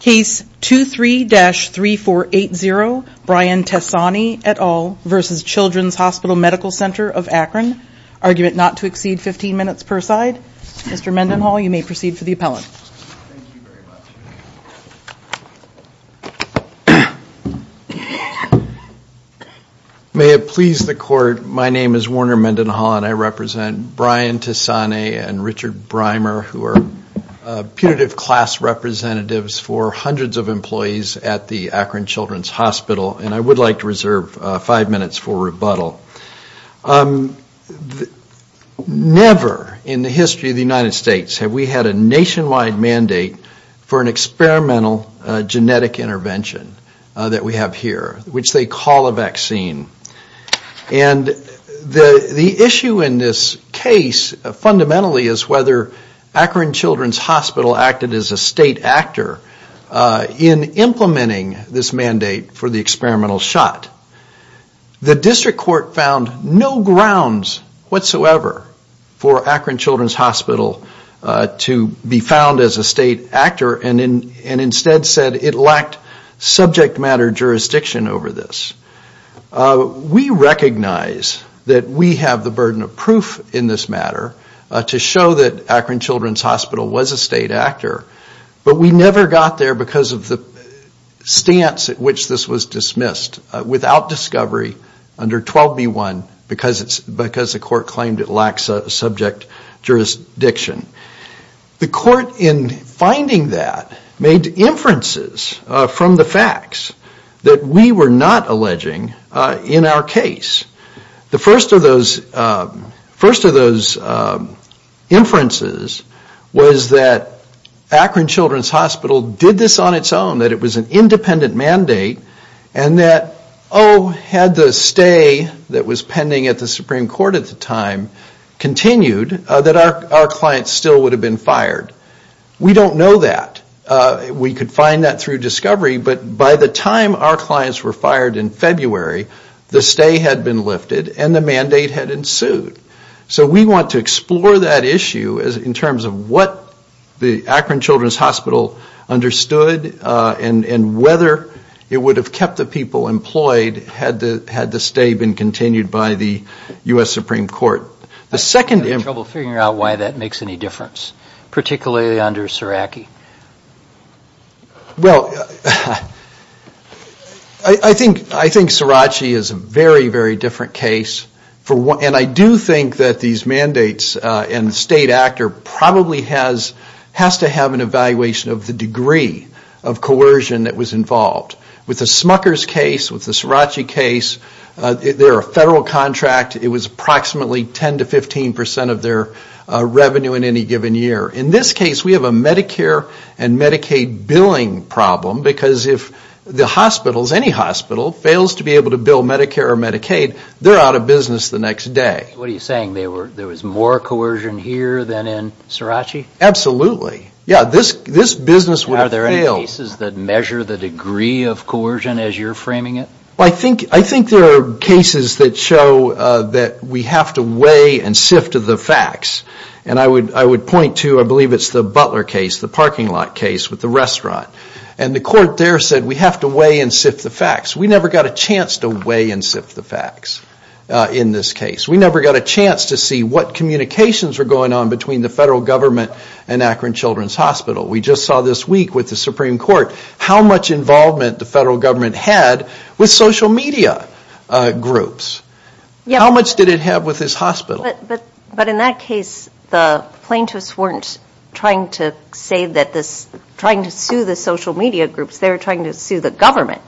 Case 23-3480, Brian Tessanne et al. v. Childrens Hospital Medical Center of Akron Argument not to exceed 15 minutes per side. Mr. Mendenhall, you may proceed for the appellate May it please the court, my name is Warner Mendenhall and I represent Brian Tessanne and Richard Breimer who are putative class representatives for hundreds of employees at the Akron Children's Hospital and I would like to reserve five minutes for rebuttal. Never in the history of the United States have we had a nationwide mandate for an experimental genetic intervention that we have here, which they call a vaccine. And the the issue in this case fundamentally is whether Akron Children's Hospital acted as a state actor in implementing this mandate for the experimental shot. The district court found no grounds whatsoever for Akron Children's Hospital to be found as a state actor and instead said it lacked subject matter jurisdiction over this. We recognize that we have the burden of proof in this matter to show that Akron Children's Hospital was a state actor, but we never got there because of the stance at which this was dismissed without discovery under 12b-1 because the court claimed it lacks subject jurisdiction. The court in finding that made inferences from the facts that we were not alleging in our case. The first of those first of those inferences was that Akron Children's Hospital did this on its own, that it was an independent mandate and that, oh, had the stay that was pending at the Supreme Court at the time continued, that our clients still would have been fired. We don't know that. We could find that through discovery, but by the time our clients were fired in February, the stay had been lifted and the mandate had ensued. So we want to explore that issue as in terms of what the Akron Children's Hospital understood and and whether it would have kept the people employed had the had the stay been continued by the U.S. Supreme Court. The second... I'm having trouble figuring out why that makes any difference, particularly under Sirachi. Well, I think Sirachi is a very, very different case. And I do think that these mandates and the state actor probably has has to have an evaluation of the degree of coercion that was involved. With the Smucker's case, with the Sirachi case, they're a federal contract. It was approximately 10 to 15 percent of their revenue in any given year. In this case, we have a Medicare and Medicaid billing problem, because if the hospitals, any hospital, fails to be able to bill Medicare or Medicaid, they're out of business the next day. What are you saying? There was more coercion here than in Sirachi? Absolutely. Yeah, this business would have failed. Are there any cases that measure the degree of coercion as you're framing it? I think there are cases that show that we have to weigh and sift the facts. And I would point to, I believe it's the Butler case, the parking lot case with the restaurant. And the court there said we have to weigh and sift the facts. We never got a chance to weigh and sift the facts in this case. We never got a chance to see what communications were going on between the federal government and Akron Children's Hospital. We just saw this week with the Supreme Court how much involvement the federal government had with social media groups. How much did it have with this hospital? But in that case, the plaintiffs weren't trying to say that this, trying to sue the social media groups. They were trying to sue the government.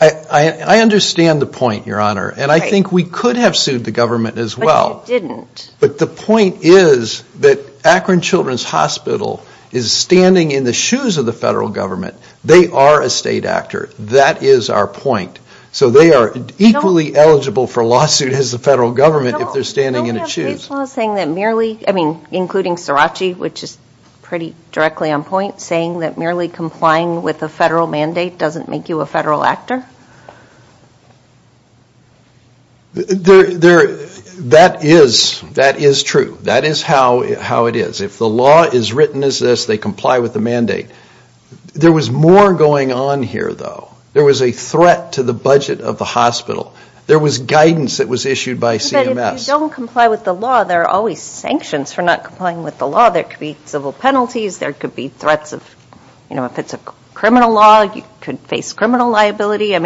I understand the point, Your Honor, and I think we could have sued the government as well. But the point is that Akron Children's Hospital is standing in the shoes of the federal government. They are a state actor. That is our point. So they are equally eligible for a lawsuit as the federal government if they're standing in the shoes. Are you saying that merely, I mean including Srirachi, which is pretty directly on point, saying that merely complying with a federal mandate doesn't make you a federal actor? That is true. That is how it is. If the law is written as this, they comply with the mandate. There was more going on here, though. There was a threat to the budget of the hospital. There was guidance that was issued by CMS. But if you don't comply with the law, there are always sanctions for not complying with the law. There could be civil penalties. There could be threats of, you know, if it's a criminal law, you could face criminal liability. I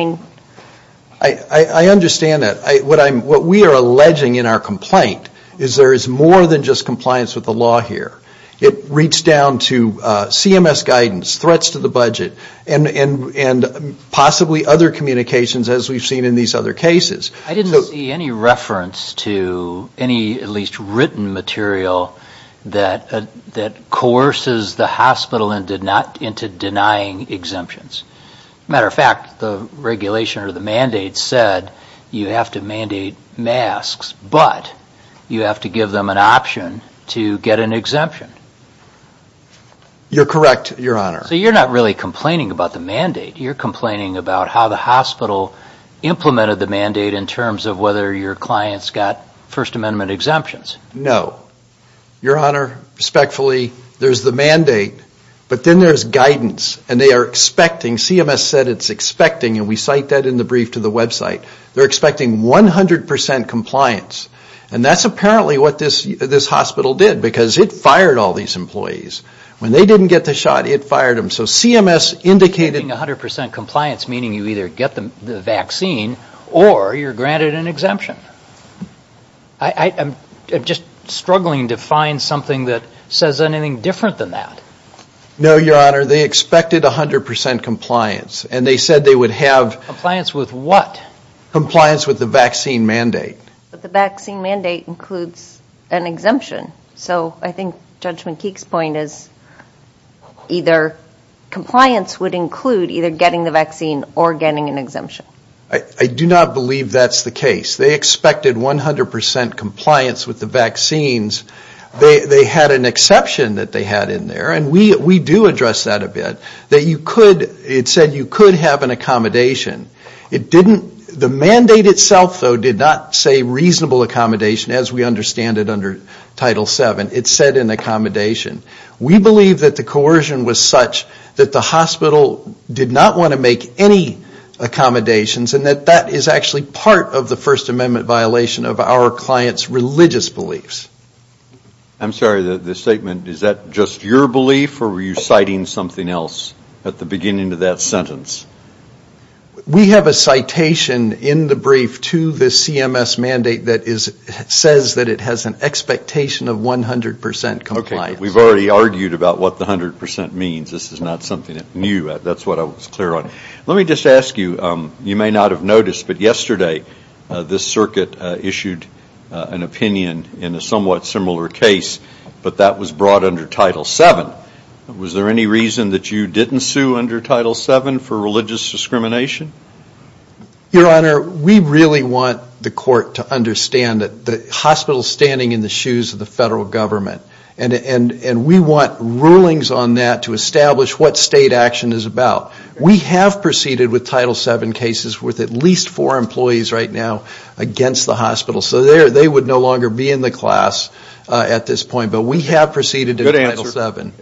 understand that. What we are alleging in our complaint is there is more than just compliance with the law here. It reached down to CMS guidance, threats to the budget, and possibly other communications as we've seen in these other cases. I didn't see any reference to any at least written material that coerces the hospital into denying exemptions. As a matter of fact, the regulation or the mandate said you have to mandate masks, but you have to give them an option to get an exemption. You're correct, Your Honor. So you're not really complaining about the mandate. You're complaining about how the hospital implemented the mandate in terms of whether your clients got First Amendment exemptions. No. Your Honor, respectfully, there's the mandate. But then there's guidance, and they are expecting, CMS said it's expecting, and we cite that in the brief to the website, they're expecting 100% compliance. And that's apparently what this hospital did, because it fired all these employees. When they didn't get the shot, it fired them. So CMS indicated 100% compliance, meaning you either get the vaccine or you're granted an exemption. I'm just struggling to find something that says anything different than that. No, Your Honor. They expected 100% compliance, and they said they would have... Compliance with what? Compliance with the vaccine mandate. But the vaccine mandate includes an exemption. So I think Judge McKeek's point is either compliance would include either getting the vaccine or getting an exemption. I do not believe that's the case. They expected 100% compliance with the vaccines. They had an exception that they had in there, and we do address that a bit. It said you could have an accommodation. The mandate itself, though, did not say reasonable accommodation, as we understand it under Title VII. It said an accommodation. We believe that the coercion was such that the hospital did not want to make any accommodations, and that that is actually part of the First Amendment violation of our client's religious beliefs. I'm sorry. The statement, is that just your belief, or were you citing something else at the beginning of that sentence? We have a citation in the brief to the CMS mandate that says that it has an expectation of 100% compliance. Okay. We've already argued about what the 100% means. This is not something new. That's what I was clear on. Let me just ask you. You may not have noticed, but yesterday, this circuit issued an opinion in a somewhat similar case, but that was brought under Title VII. Was there any reason that you didn't sue under Title VII for religious discrimination? Your Honor, we really want the court to understand that the hospital is standing in the shoes of the federal government, and we want rulings on that to establish what state action is about. We have proceeded with Title VII cases with at least four employees right now against the hospital, so they would no longer be in the class at this point. But we have proceeded with Title VII.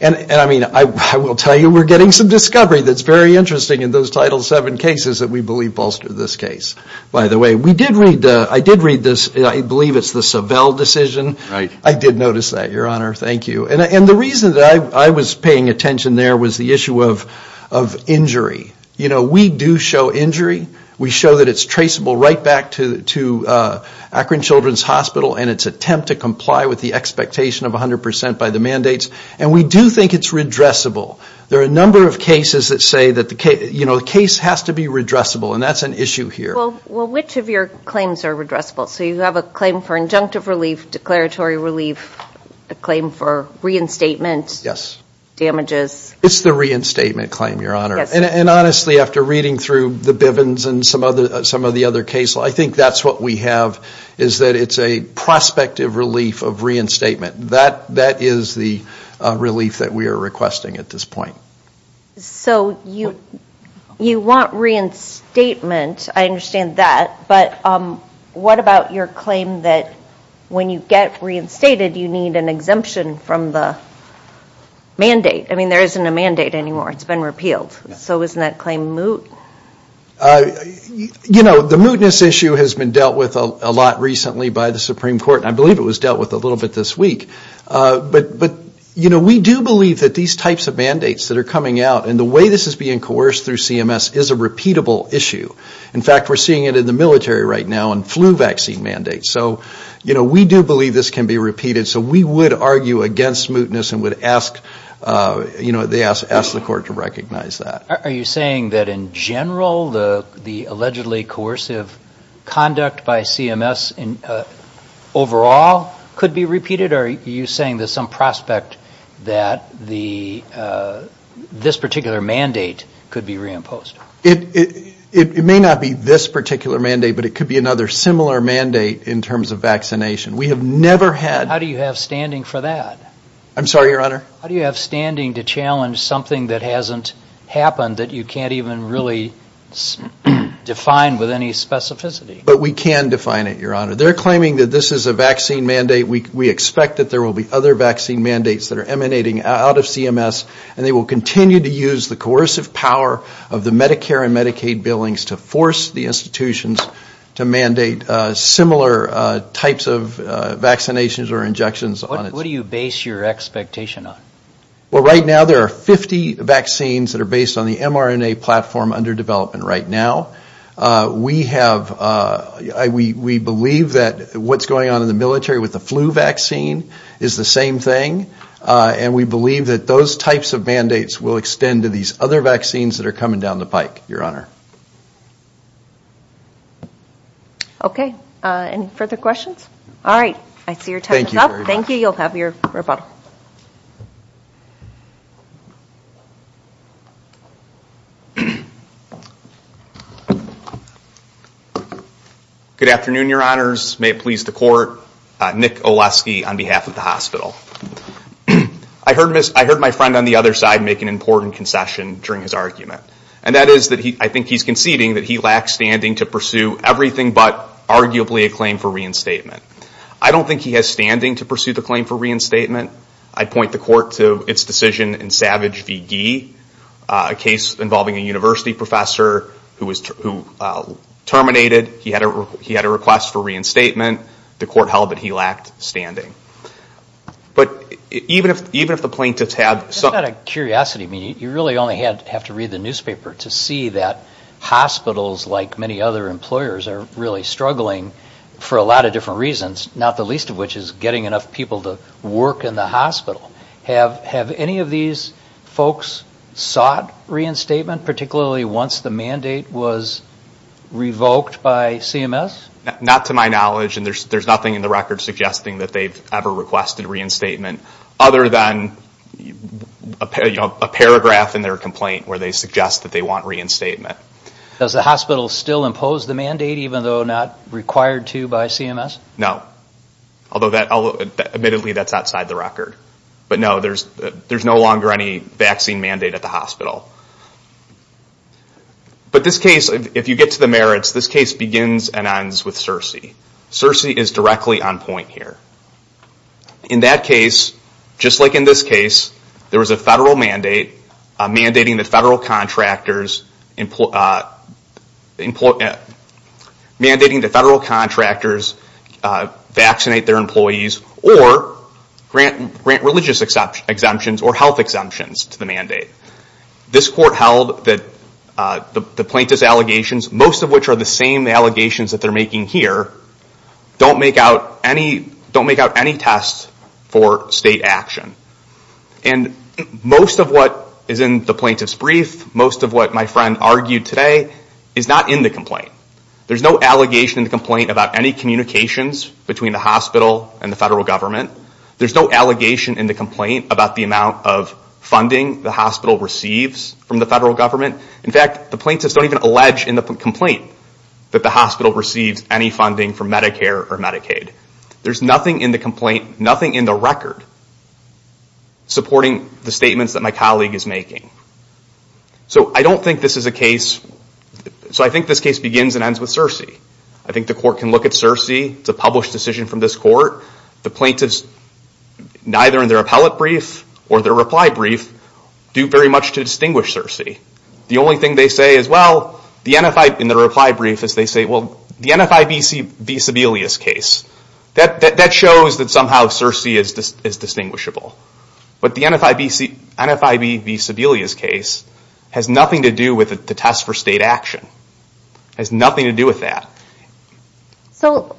And I mean, I will tell you, we're getting some discovery that's very interesting in those Title VII cases that we believe bolster this case. By the way, I did read this. I believe it's the Savelle decision. Right. I did notice that, Your Honor. Thank you. And the reason that I was paying attention there was the issue of injury. You know, we do show injury. We show that it's traceable right back to Akron Children's Hospital and its attempt to comply with the expectation of 100 percent by the mandates. And we do think it's redressable. There are a number of cases that say that the case has to be redressable, and that's an issue here. Well, which of your claims are redressable? So you have a claim for injunctive relief, declaratory relief, a claim for reinstatement. Yes. It's the reinstatement claim, Your Honor. And honestly, after reading through the Bivens and some of the other cases, I think that's what we have is that it's a prospective relief of reinstatement. That is the relief that we are requesting at this point. So you want reinstatement. I understand that. But what about your claim that when you get reinstated, you need an exemption from the mandate? I mean, there isn't a mandate anymore. It's been repealed. So isn't that claim moot? You know, the mootness issue has been dealt with a lot recently by the Supreme Court. I believe it was dealt with a little bit this week. But, you know, we do believe that these types of mandates that are coming out, and the way this is being coerced through CMS is a repeatable issue. In fact, we're seeing it in the military right now in flu vaccine mandates. So, you know, we do believe this can be repeated. So we would argue against mootness and would ask the court to recognize that. Are you saying that in general, the allegedly coercive conduct by CMS overall could be repeated? Or are you saying there's some prospect that this particular mandate could be reimposed? It may not be this particular mandate, but it could be another similar mandate in terms of vaccination. We have never had... How do you have standing for that? I'm sorry, Your Honor? How do you have standing to challenge something that hasn't happened, that you can't even really define with any specificity? But we can define it, Your Honor. They're claiming that this is a vaccine mandate. We expect that there will be other vaccine mandates that are emanating out of CMS. And they will continue to use the coercive power of the Medicare and Medicaid billings to force the institutions to mandate similar types of vaccinations or injections. What do you base your expectation on? Well, right now, there are 50 vaccines that are based on the mRNA platform under development right now. We have... We believe that what's going on in the military with the flu vaccine is the same thing. And we believe that those types of mandates will extend to these other vaccines that are coming down the pike, Your Honor. Any further questions? All right. I see your time is up. Thank you. You'll have your rebuttal. Good afternoon, Your Honors. May it please the Court. Nick Olesky on behalf of the hospital. I heard my friend on the other side make an important concession during his argument. And that is that I think he's conceding that he lacks standing to pursue everything but arguably a claim for reinstatement. I don't think he has standing to pursue the claim for reinstatement. I'd point the Court to its decision in Savage v. Gee, a case involving a university professor who terminated. He had a request for reinstatement. The Court held that he lacked standing. But even if the plaintiffs had... Just out of curiosity, you really only have to read the newspaper to see that hospitals, like many other employers, are really struggling for a lot of different reasons, not the least of which is getting enough people to work in the hospital. Have any of these folks sought reinstatement, particularly once the mandate was revoked by CMS? Not to my knowledge. There's nothing in the record suggesting that they've ever requested reinstatement other than a paragraph in their complaint where they suggest that they want reinstatement. Does the hospital still impose the mandate even though not required to by CMS? No. Although, admittedly, that's outside the record. But no, there's no longer any vaccine mandate at the hospital. But this case, if you get to the merits, this case begins and ends with Searcy. Searcy is directly on point here. In that case, just like in this case, there was a federal mandate mandating that federal contractors vaccinate their employees or grant religious exemptions or health exemptions to the mandate. This Court held that the plaintiff's allegations, most of which are the same allegations that they're making here, don't make out any test for state action. And most of what is in the plaintiff's brief, most of what my friend argued today, is not in the complaint. There's no allegation in the complaint about any communications between the hospital and the federal government. There's no allegation in the complaint about the amount of funding the hospital receives from the federal government. In fact, the plaintiffs don't even allege in the complaint that the hospital receives any funding from Medicare or Medicaid. There's nothing in the complaint, nothing in the record, supporting the statements that my colleague is making. So I don't think this is a case... So I think this case begins and ends with Searcy. I think the Court can look at Searcy. It's a published decision from this Court. The plaintiffs, neither in their appellate brief or their reply brief, do very much to distinguish Searcy. The only thing they say is, well... In their reply brief, they say, well, the NFIBC v. Sebelius case, that shows that somehow Searcy is distinguishable. But the NFIB v. Sebelius case, has nothing to do with the test for state action. It has nothing to do with that. So,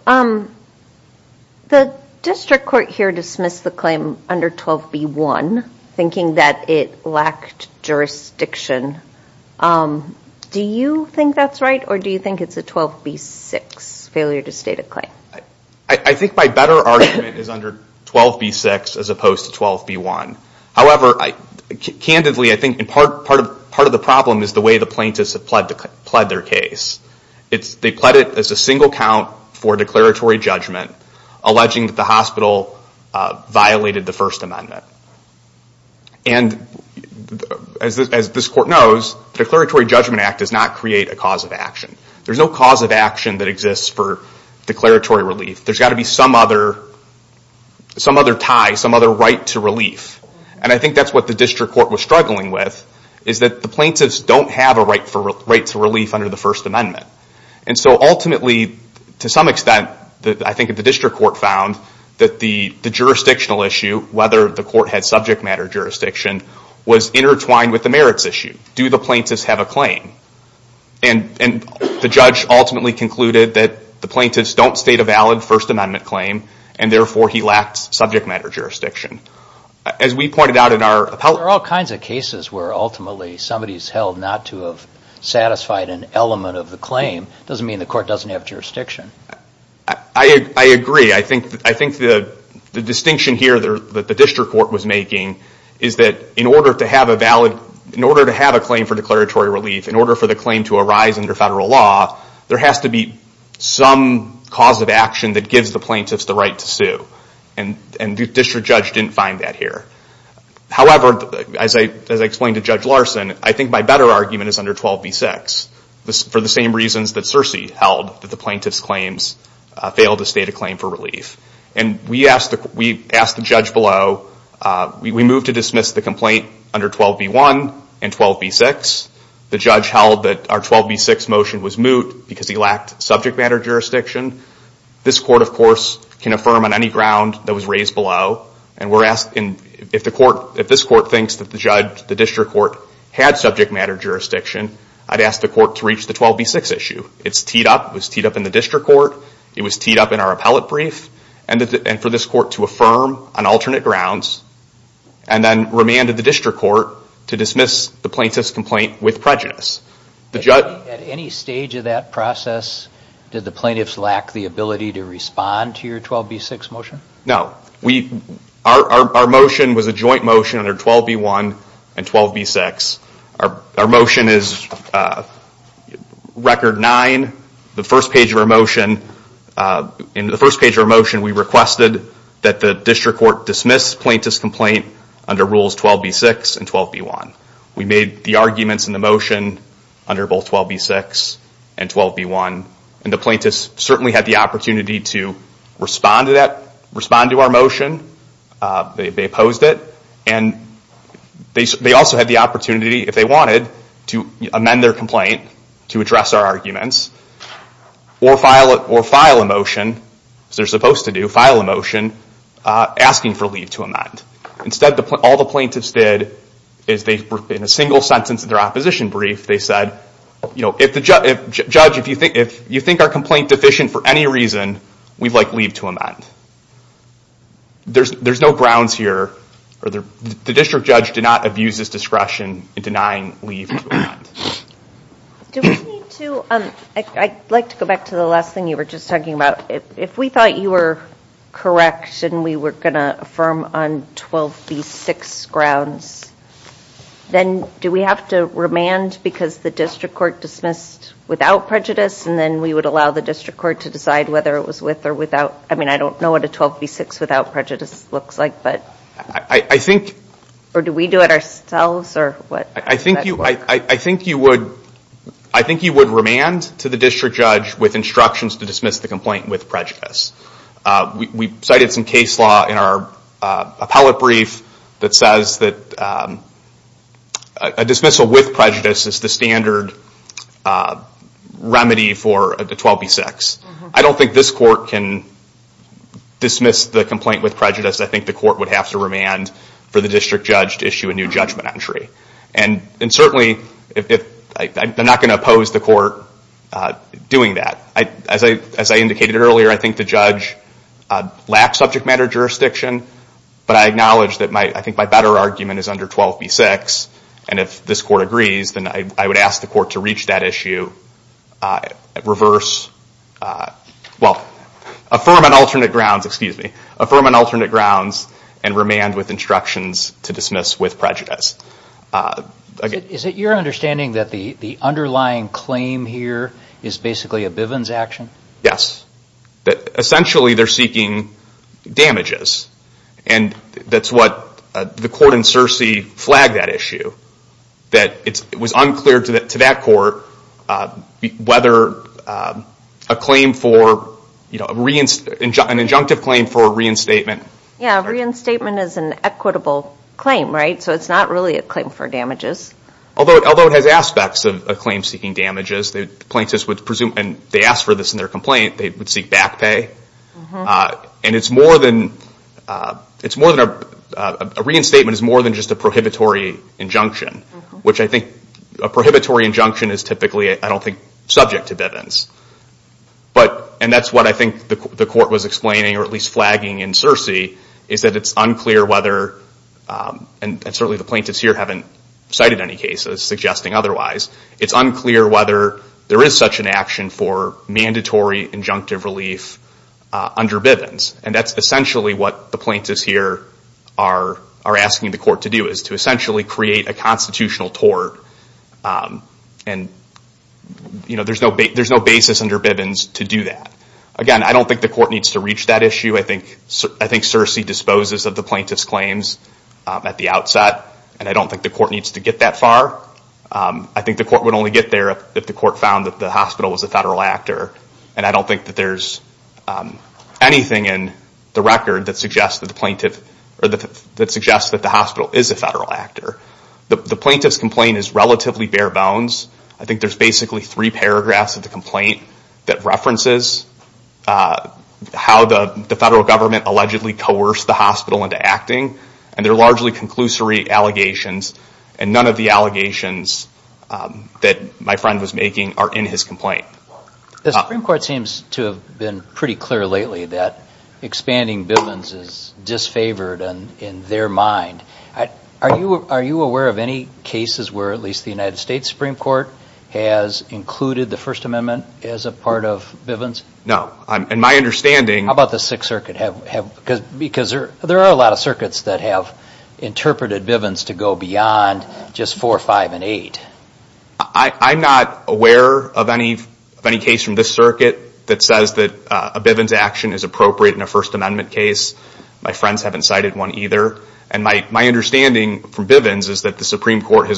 the District Court here dismissed the claim under 12b.1, thinking that it lacked jurisdiction. Do you think that's right? Or do you think it's a 12b.6, failure to state a claim? I think my better argument is under 12b.6, as opposed to 12b.1. However, candidly, I think part of the problem is the way the plaintiffs have pled their case. They pled it as a single count for declaratory judgment, alleging that the hospital violated the First Amendment. And, as this Court knows, the Declaratory Judgment Act does not create a cause of action. There's no cause of action that exists for declaratory relief. There's got to be some other tie, some other right to relief. And I think that's what the District Court was struggling with, is that the plaintiffs don't have a right to relief under the First Amendment. And so, ultimately, to some extent, I think the District Court found that the jurisdictional issue, whether the Court had subject matter jurisdiction, was intertwined with the merits issue. Do the plaintiffs have a claim? And the judge ultimately concluded that the plaintiffs don't state a valid First Amendment claim, and therefore he lacked subject matter jurisdiction. As we pointed out in our... There are all kinds of cases where, ultimately, somebody's held not to have satisfied an element of the claim. It doesn't mean the Court doesn't have jurisdiction. I agree. I think the distinction here that the District Court was making is that in order to have a claim for declaratory relief, in order for the claim to arise under federal law, there has to be some cause of action that gives the plaintiffs the right to sue. And the District Judge didn't find that here. However, as I explained to Judge Larson, I think my better argument is under 12b-6, for the same reasons that Circe held that the plaintiffs' claims failed to state a claim for relief. And we asked the judge below... We moved to dismiss the complaint under 12b-1 and 12b-6. The judge held that our 12b-6 motion was moot because he lacked subject matter jurisdiction. This Court, of course, can affirm on any ground that was raised below. And if this Court thinks that the District Court had subject matter jurisdiction, I'd ask the Court to reach the 12b-6 issue. It's teed up, it was teed up in the District Court, it was teed up in our appellate brief, and for this Court to affirm on alternate grounds, and then remanded the District Court to dismiss the plaintiff's complaint with prejudice. At any stage of that process, did the plaintiffs lack the ability to respond to your 12b-6 motion? No. Our motion was a joint motion under 12b-1 and 12b-6. Our motion is Record 9. In the first page of our motion, we requested that the District Court dismiss the plaintiff's complaint under Rules 12b-6 and 12b-1. We made the arguments in the motion under both 12b-6 and 12b-1, and the plaintiffs certainly had the opportunity to respond to our motion. They opposed it. They also had the opportunity, if they wanted, to amend their complaint to address our arguments, or file a motion, as they're supposed to do, asking for leave to amend. Instead, all the plaintiffs did in a single sentence of their opposition brief, they said, if you think our complaint is deficient for any reason, we'd like leave to amend. There's no grounds here. The District Judge did not abuse his discretion in denying leave to amend. I'd like to go back to the last thing you were just talking about. If we thought you were correct and we were going to affirm on 12b-6 grounds, then do we have to remand because the District Court dismissed the complaint without prejudice, and then we would allow the District Court to decide whether it was with or without prejudice? Or do we do it ourselves? I think you would remand to the District Judge with instructions to dismiss the complaint with prejudice. We cited some case law in our appellate brief that says that a dismissal with prejudice is the standard remedy for 12b-6. I don't think this Court can dismiss the complaint with prejudice. I think the Court would have to remand for the District Judge to issue a new judgment entry. I'm not going to oppose the Court doing that. As I indicated earlier, I think the Judge lacks subject matter jurisdiction, but I acknowledge that my better argument is under 12b-6. If this Court agrees, then I would ask the Court to reach that issue, affirm on alternate grounds, and remand with instructions to dismiss with prejudice. Is it your understanding that the underlying claim here is basically a Bivens action? Yes. Essentially, they're seeking damages. That's what the Court in Searcy flagged that issue. It was unclear to that Court whether an injunctive claim for reinstatement Reinstatement is an equitable claim, so it's not really a claim for damages. Although it has aspects of a claim seeking damages, plaintiffs would ask for this in their complaint, they would seek back pay. A reinstatement is more than just a prohibitory injunction. A prohibitory injunction is typically subject to Bivens. That's what I think the Court was explaining or at least flagging in Searcy. It's unclear whether and certainly the plaintiffs here haven't cited any cases suggesting otherwise. It's unclear whether there is such an action for mandatory injunctive relief under Bivens. That's essentially what the plaintiffs here are asking the Court to do, to create a constitutional tort. There's no basis under Bivens to do that. Again, I don't think the Court needs to reach that issue. I think Searcy disposes of the plaintiff's claims at the outset and I don't think the Court needs to get that far. I think the Court would only get there if the Court found that the hospital was a federal actor and I don't think that there's anything in the record that suggests that the hospital is a federal actor. The plaintiff's complaint is relatively bare bones. I think there's basically three paragraphs of the complaint that references how the federal government allegedly coerced the hospital into acting and they're largely conclusory allegations and none of the allegations that my friend was making are in his complaint. The Supreme Court seems to have been pretty clear lately that expanding Bivens is disfavored in their mind. Are you aware of any cases where at least the United States Supreme Court has included the First Amendment as a part of Bivens? No. How about the Sixth Circuit? There are a lot of circuits that have interpreted Bivens to go beyond just 4, 5, and 8. I'm not aware of any case from this circuit that says that a Bivens action is appropriate in a First Amendment case. My friends haven't cited one either. My understanding from Bivens is that the Supreme Court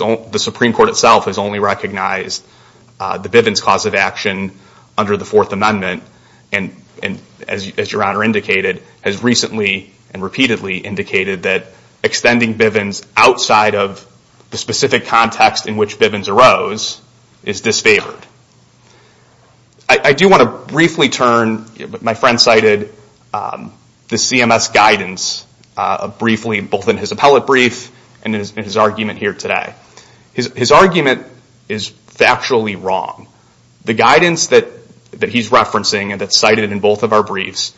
itself has only recognized the Bivens cause of action under the Fourth Amendment and as Your Honor indicated has recently and repeatedly indicated that extending Bivens outside of the specific context in which Bivens arose is disfavored. I do want to briefly turn my friend cited the CMS guidance briefly both in his appellate brief and in his argument here today. His argument is factually wrong. The guidance that he's referencing and that's cited in both of our briefs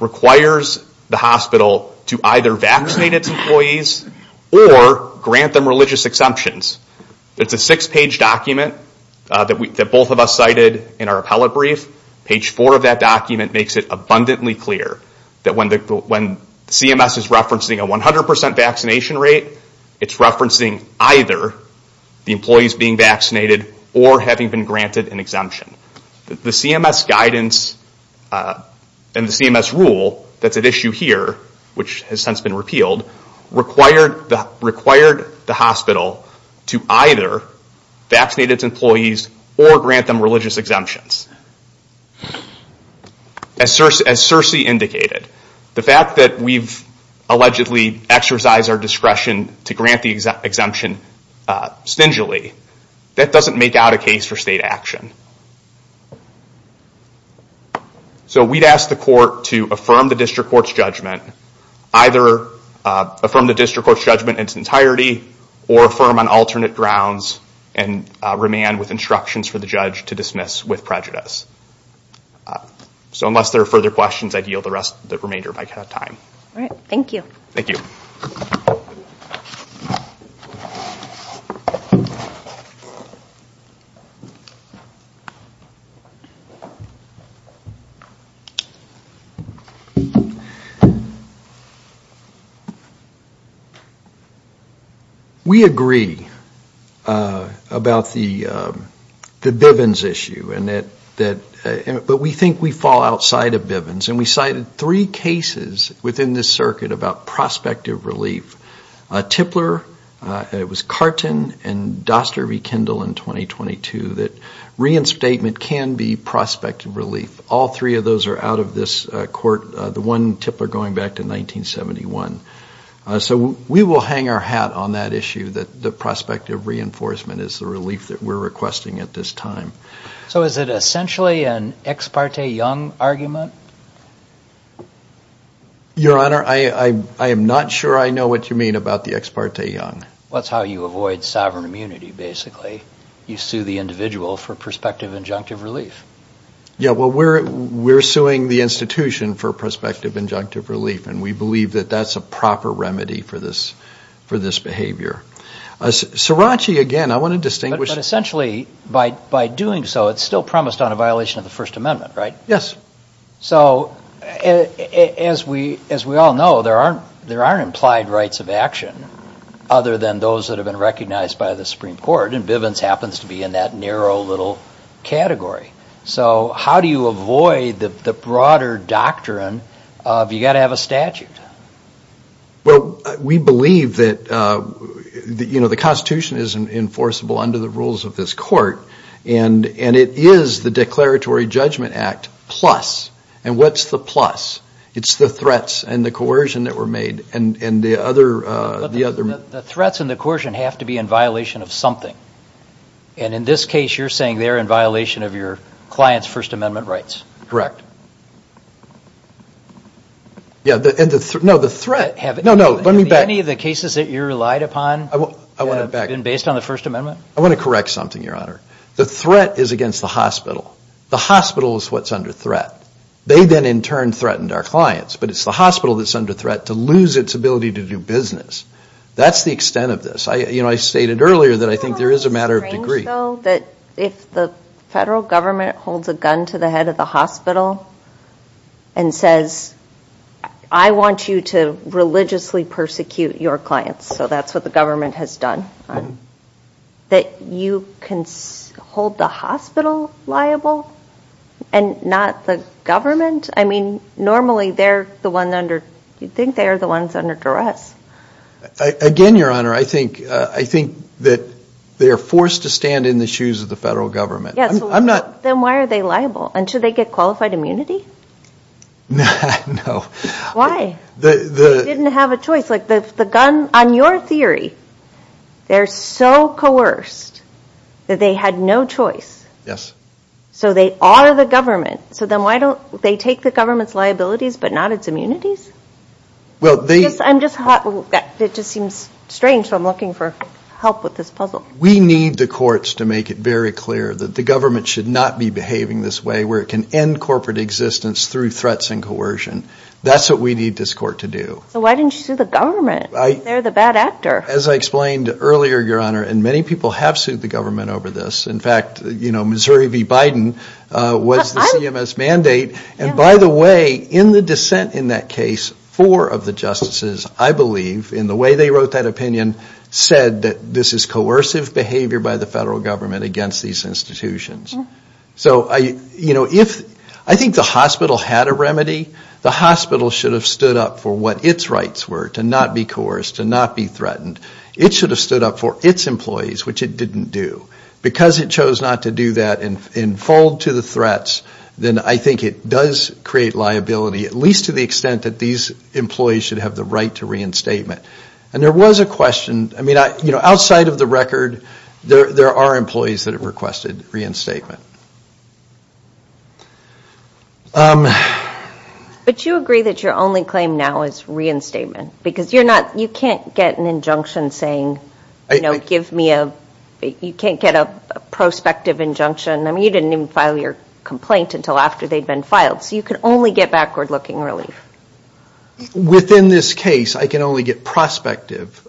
requires the hospital to either vaccinate its employees or grant them religious exemptions. It's a 6 page document that both of us cited in our appellate brief. Page 4 of that document makes it abundantly clear that when CMS is referencing a 100% vaccination rate it's referencing either the employees being vaccinated or having been granted an exemption. The CMS guidance and the CMS rule that's at issue here, which has since been repealed required the hospital to either vaccinate its employees or grant them religious exemptions. As Circe indicated the fact that we've allegedly exercised our discretion to grant the exemption stingily, that doesn't make out a case for state action. So we'd ask the court to affirm the district court's judgment, either affirm the district court's judgment in its entirety or affirm on alternate grounds and remand with instructions for the judge to dismiss with prejudice. So unless there are further questions, I yield the remainder of my time. We agree about the Bivens issue but we think we fall outside of Bivens and we cited three cases within this circuit about prospective relief. Tipler, it was Carton and Doster v. Kendall in 2022 that reinstatement can be prospective relief. All three of those are out of this court. The one, Tipler, going back to 1971. So we will hang our hat on that issue that the prospective reinforcement is the relief that we're requesting at this time. So is it essentially an Ex parte Young argument? Your Honor, I am not sure I know what you mean about the Ex parte Young. That's how you avoid sovereign immunity, basically. You sue the individual for prospective injunctive relief. Yeah, well, we're suing the institution for prospective injunctive relief and we believe that's a proper remedy for this behavior. Srirachi, again, I want to distinguish But essentially, by doing so, it's still promised on a violation of the First Amendment, right? Yes. So, as we all know, there aren't implied rights of action other than those that have been recognized by the Supreme Court and Bivens happens to be in that narrow little category. So how do you avoid the broader doctrine of you've got to have a statute? Well, we believe that the Constitution is enforceable under the rules of this court and it is the Declaratory Judgment Act plus and what's the plus? It's the threats and the coercion that were made and the other... The threats and the coercion have to be in violation of something and in this case, you're saying they're in violation of your client's First Amendment rights. Have any of the cases that you relied upon been based on the First Amendment? I want to correct something, Your Honor. The threat is against the hospital. The hospital is what's under threat. They then in turn threatened our clients but it's the hospital that's under threat to lose its ability to do business. That's the extent of this. I stated earlier that I think there is a matter of degree. Isn't it strange, though, that if the federal government holds a gun to the head of the hospital and says, I want you to religiously persecute your clients so that's what the government has done that you can hold the hospital liable and not the government? Normally they're the ones under... You'd think they're the ones under duress. Again, Your Honor, I think that they're forced to stand in the shoes of the federal government. Then why are they liable? Should they get qualified immunity? Why? They didn't have a choice. On your theory, they're so coerced that they had no choice. So they are the government. They take the government's liabilities but not its immunities? It just seems strange. I'm looking for help with this puzzle. We need the courts to make it very clear that the government should not be behaving this way where it can end corporate existence through threats and coercion. That's what we need this court to do. So why didn't you sue the government? They're the bad actor. As I explained earlier, Your Honor, and many people have sued the government over this. In fact, Missouri v. Biden was the CMS mandate. By the way, in the dissent in that case, four of the justices, I believe, in the way they wrote that opinion, said that this is coercive behavior by the federal government against these institutions. I think the hospital had a remedy. The hospital should have stood up for what its rights were to not be coerced, to not be threatened. It should have stood up for its employees, which it didn't do. Because it chose not to do that and fold to the threats, then I think it does create liability, at least to the extent that these employees should have the right to reinstatement. And there was a question. Outside of the record, there are employees that have requested reinstatement. But you agree that your only claim now is reinstatement? Because you can't get an injunction saying, you can't get a prospective injunction. I mean, you didn't even file your complaint until after they'd been filed. So you can only get backward-looking relief. Within this case, I can only get prospective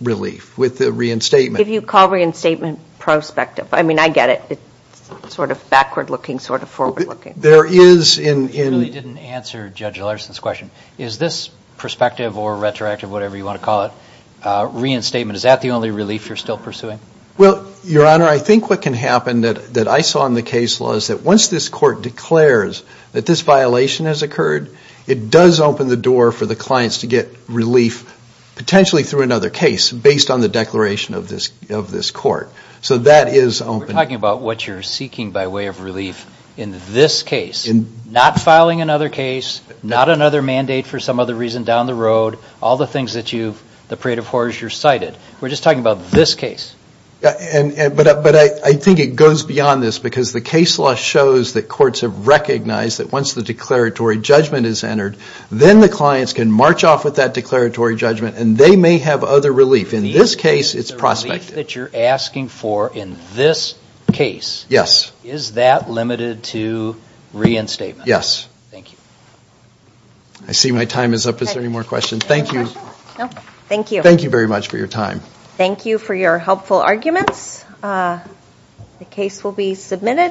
relief with the reinstatement. If you call reinstatement prospective, I mean, I get it. It's sort of backward-looking, sort of forward-looking. You really didn't answer Judge Larson's question. Is this prospective or retroactive, whatever you want to call it, reinstatement, is that the only relief you're still pursuing? Well, Your Honor, I think what can happen that I saw in the case law is that once this court declares that this violation has occurred, it does open the door for the clients to get relief, potentially through another case, based on the declaration of this court. So that is open. We're talking about what you're seeking by way of relief in this case. Not filing another case, not another mandate for some other reason down the road, all the things that you've, the parade of horrors you've cited. We're just talking about this case. But I think it goes beyond this, because the case law shows that courts have recognized that once the declaratory judgment is entered, then the clients can march off with that declaratory judgment and they may have other relief. In this case, it's prospective. The relief that you're asking for in this case, is that limited to reinstatement? Yes. Thank you. I see my time is up. Is there any more questions? Thank you.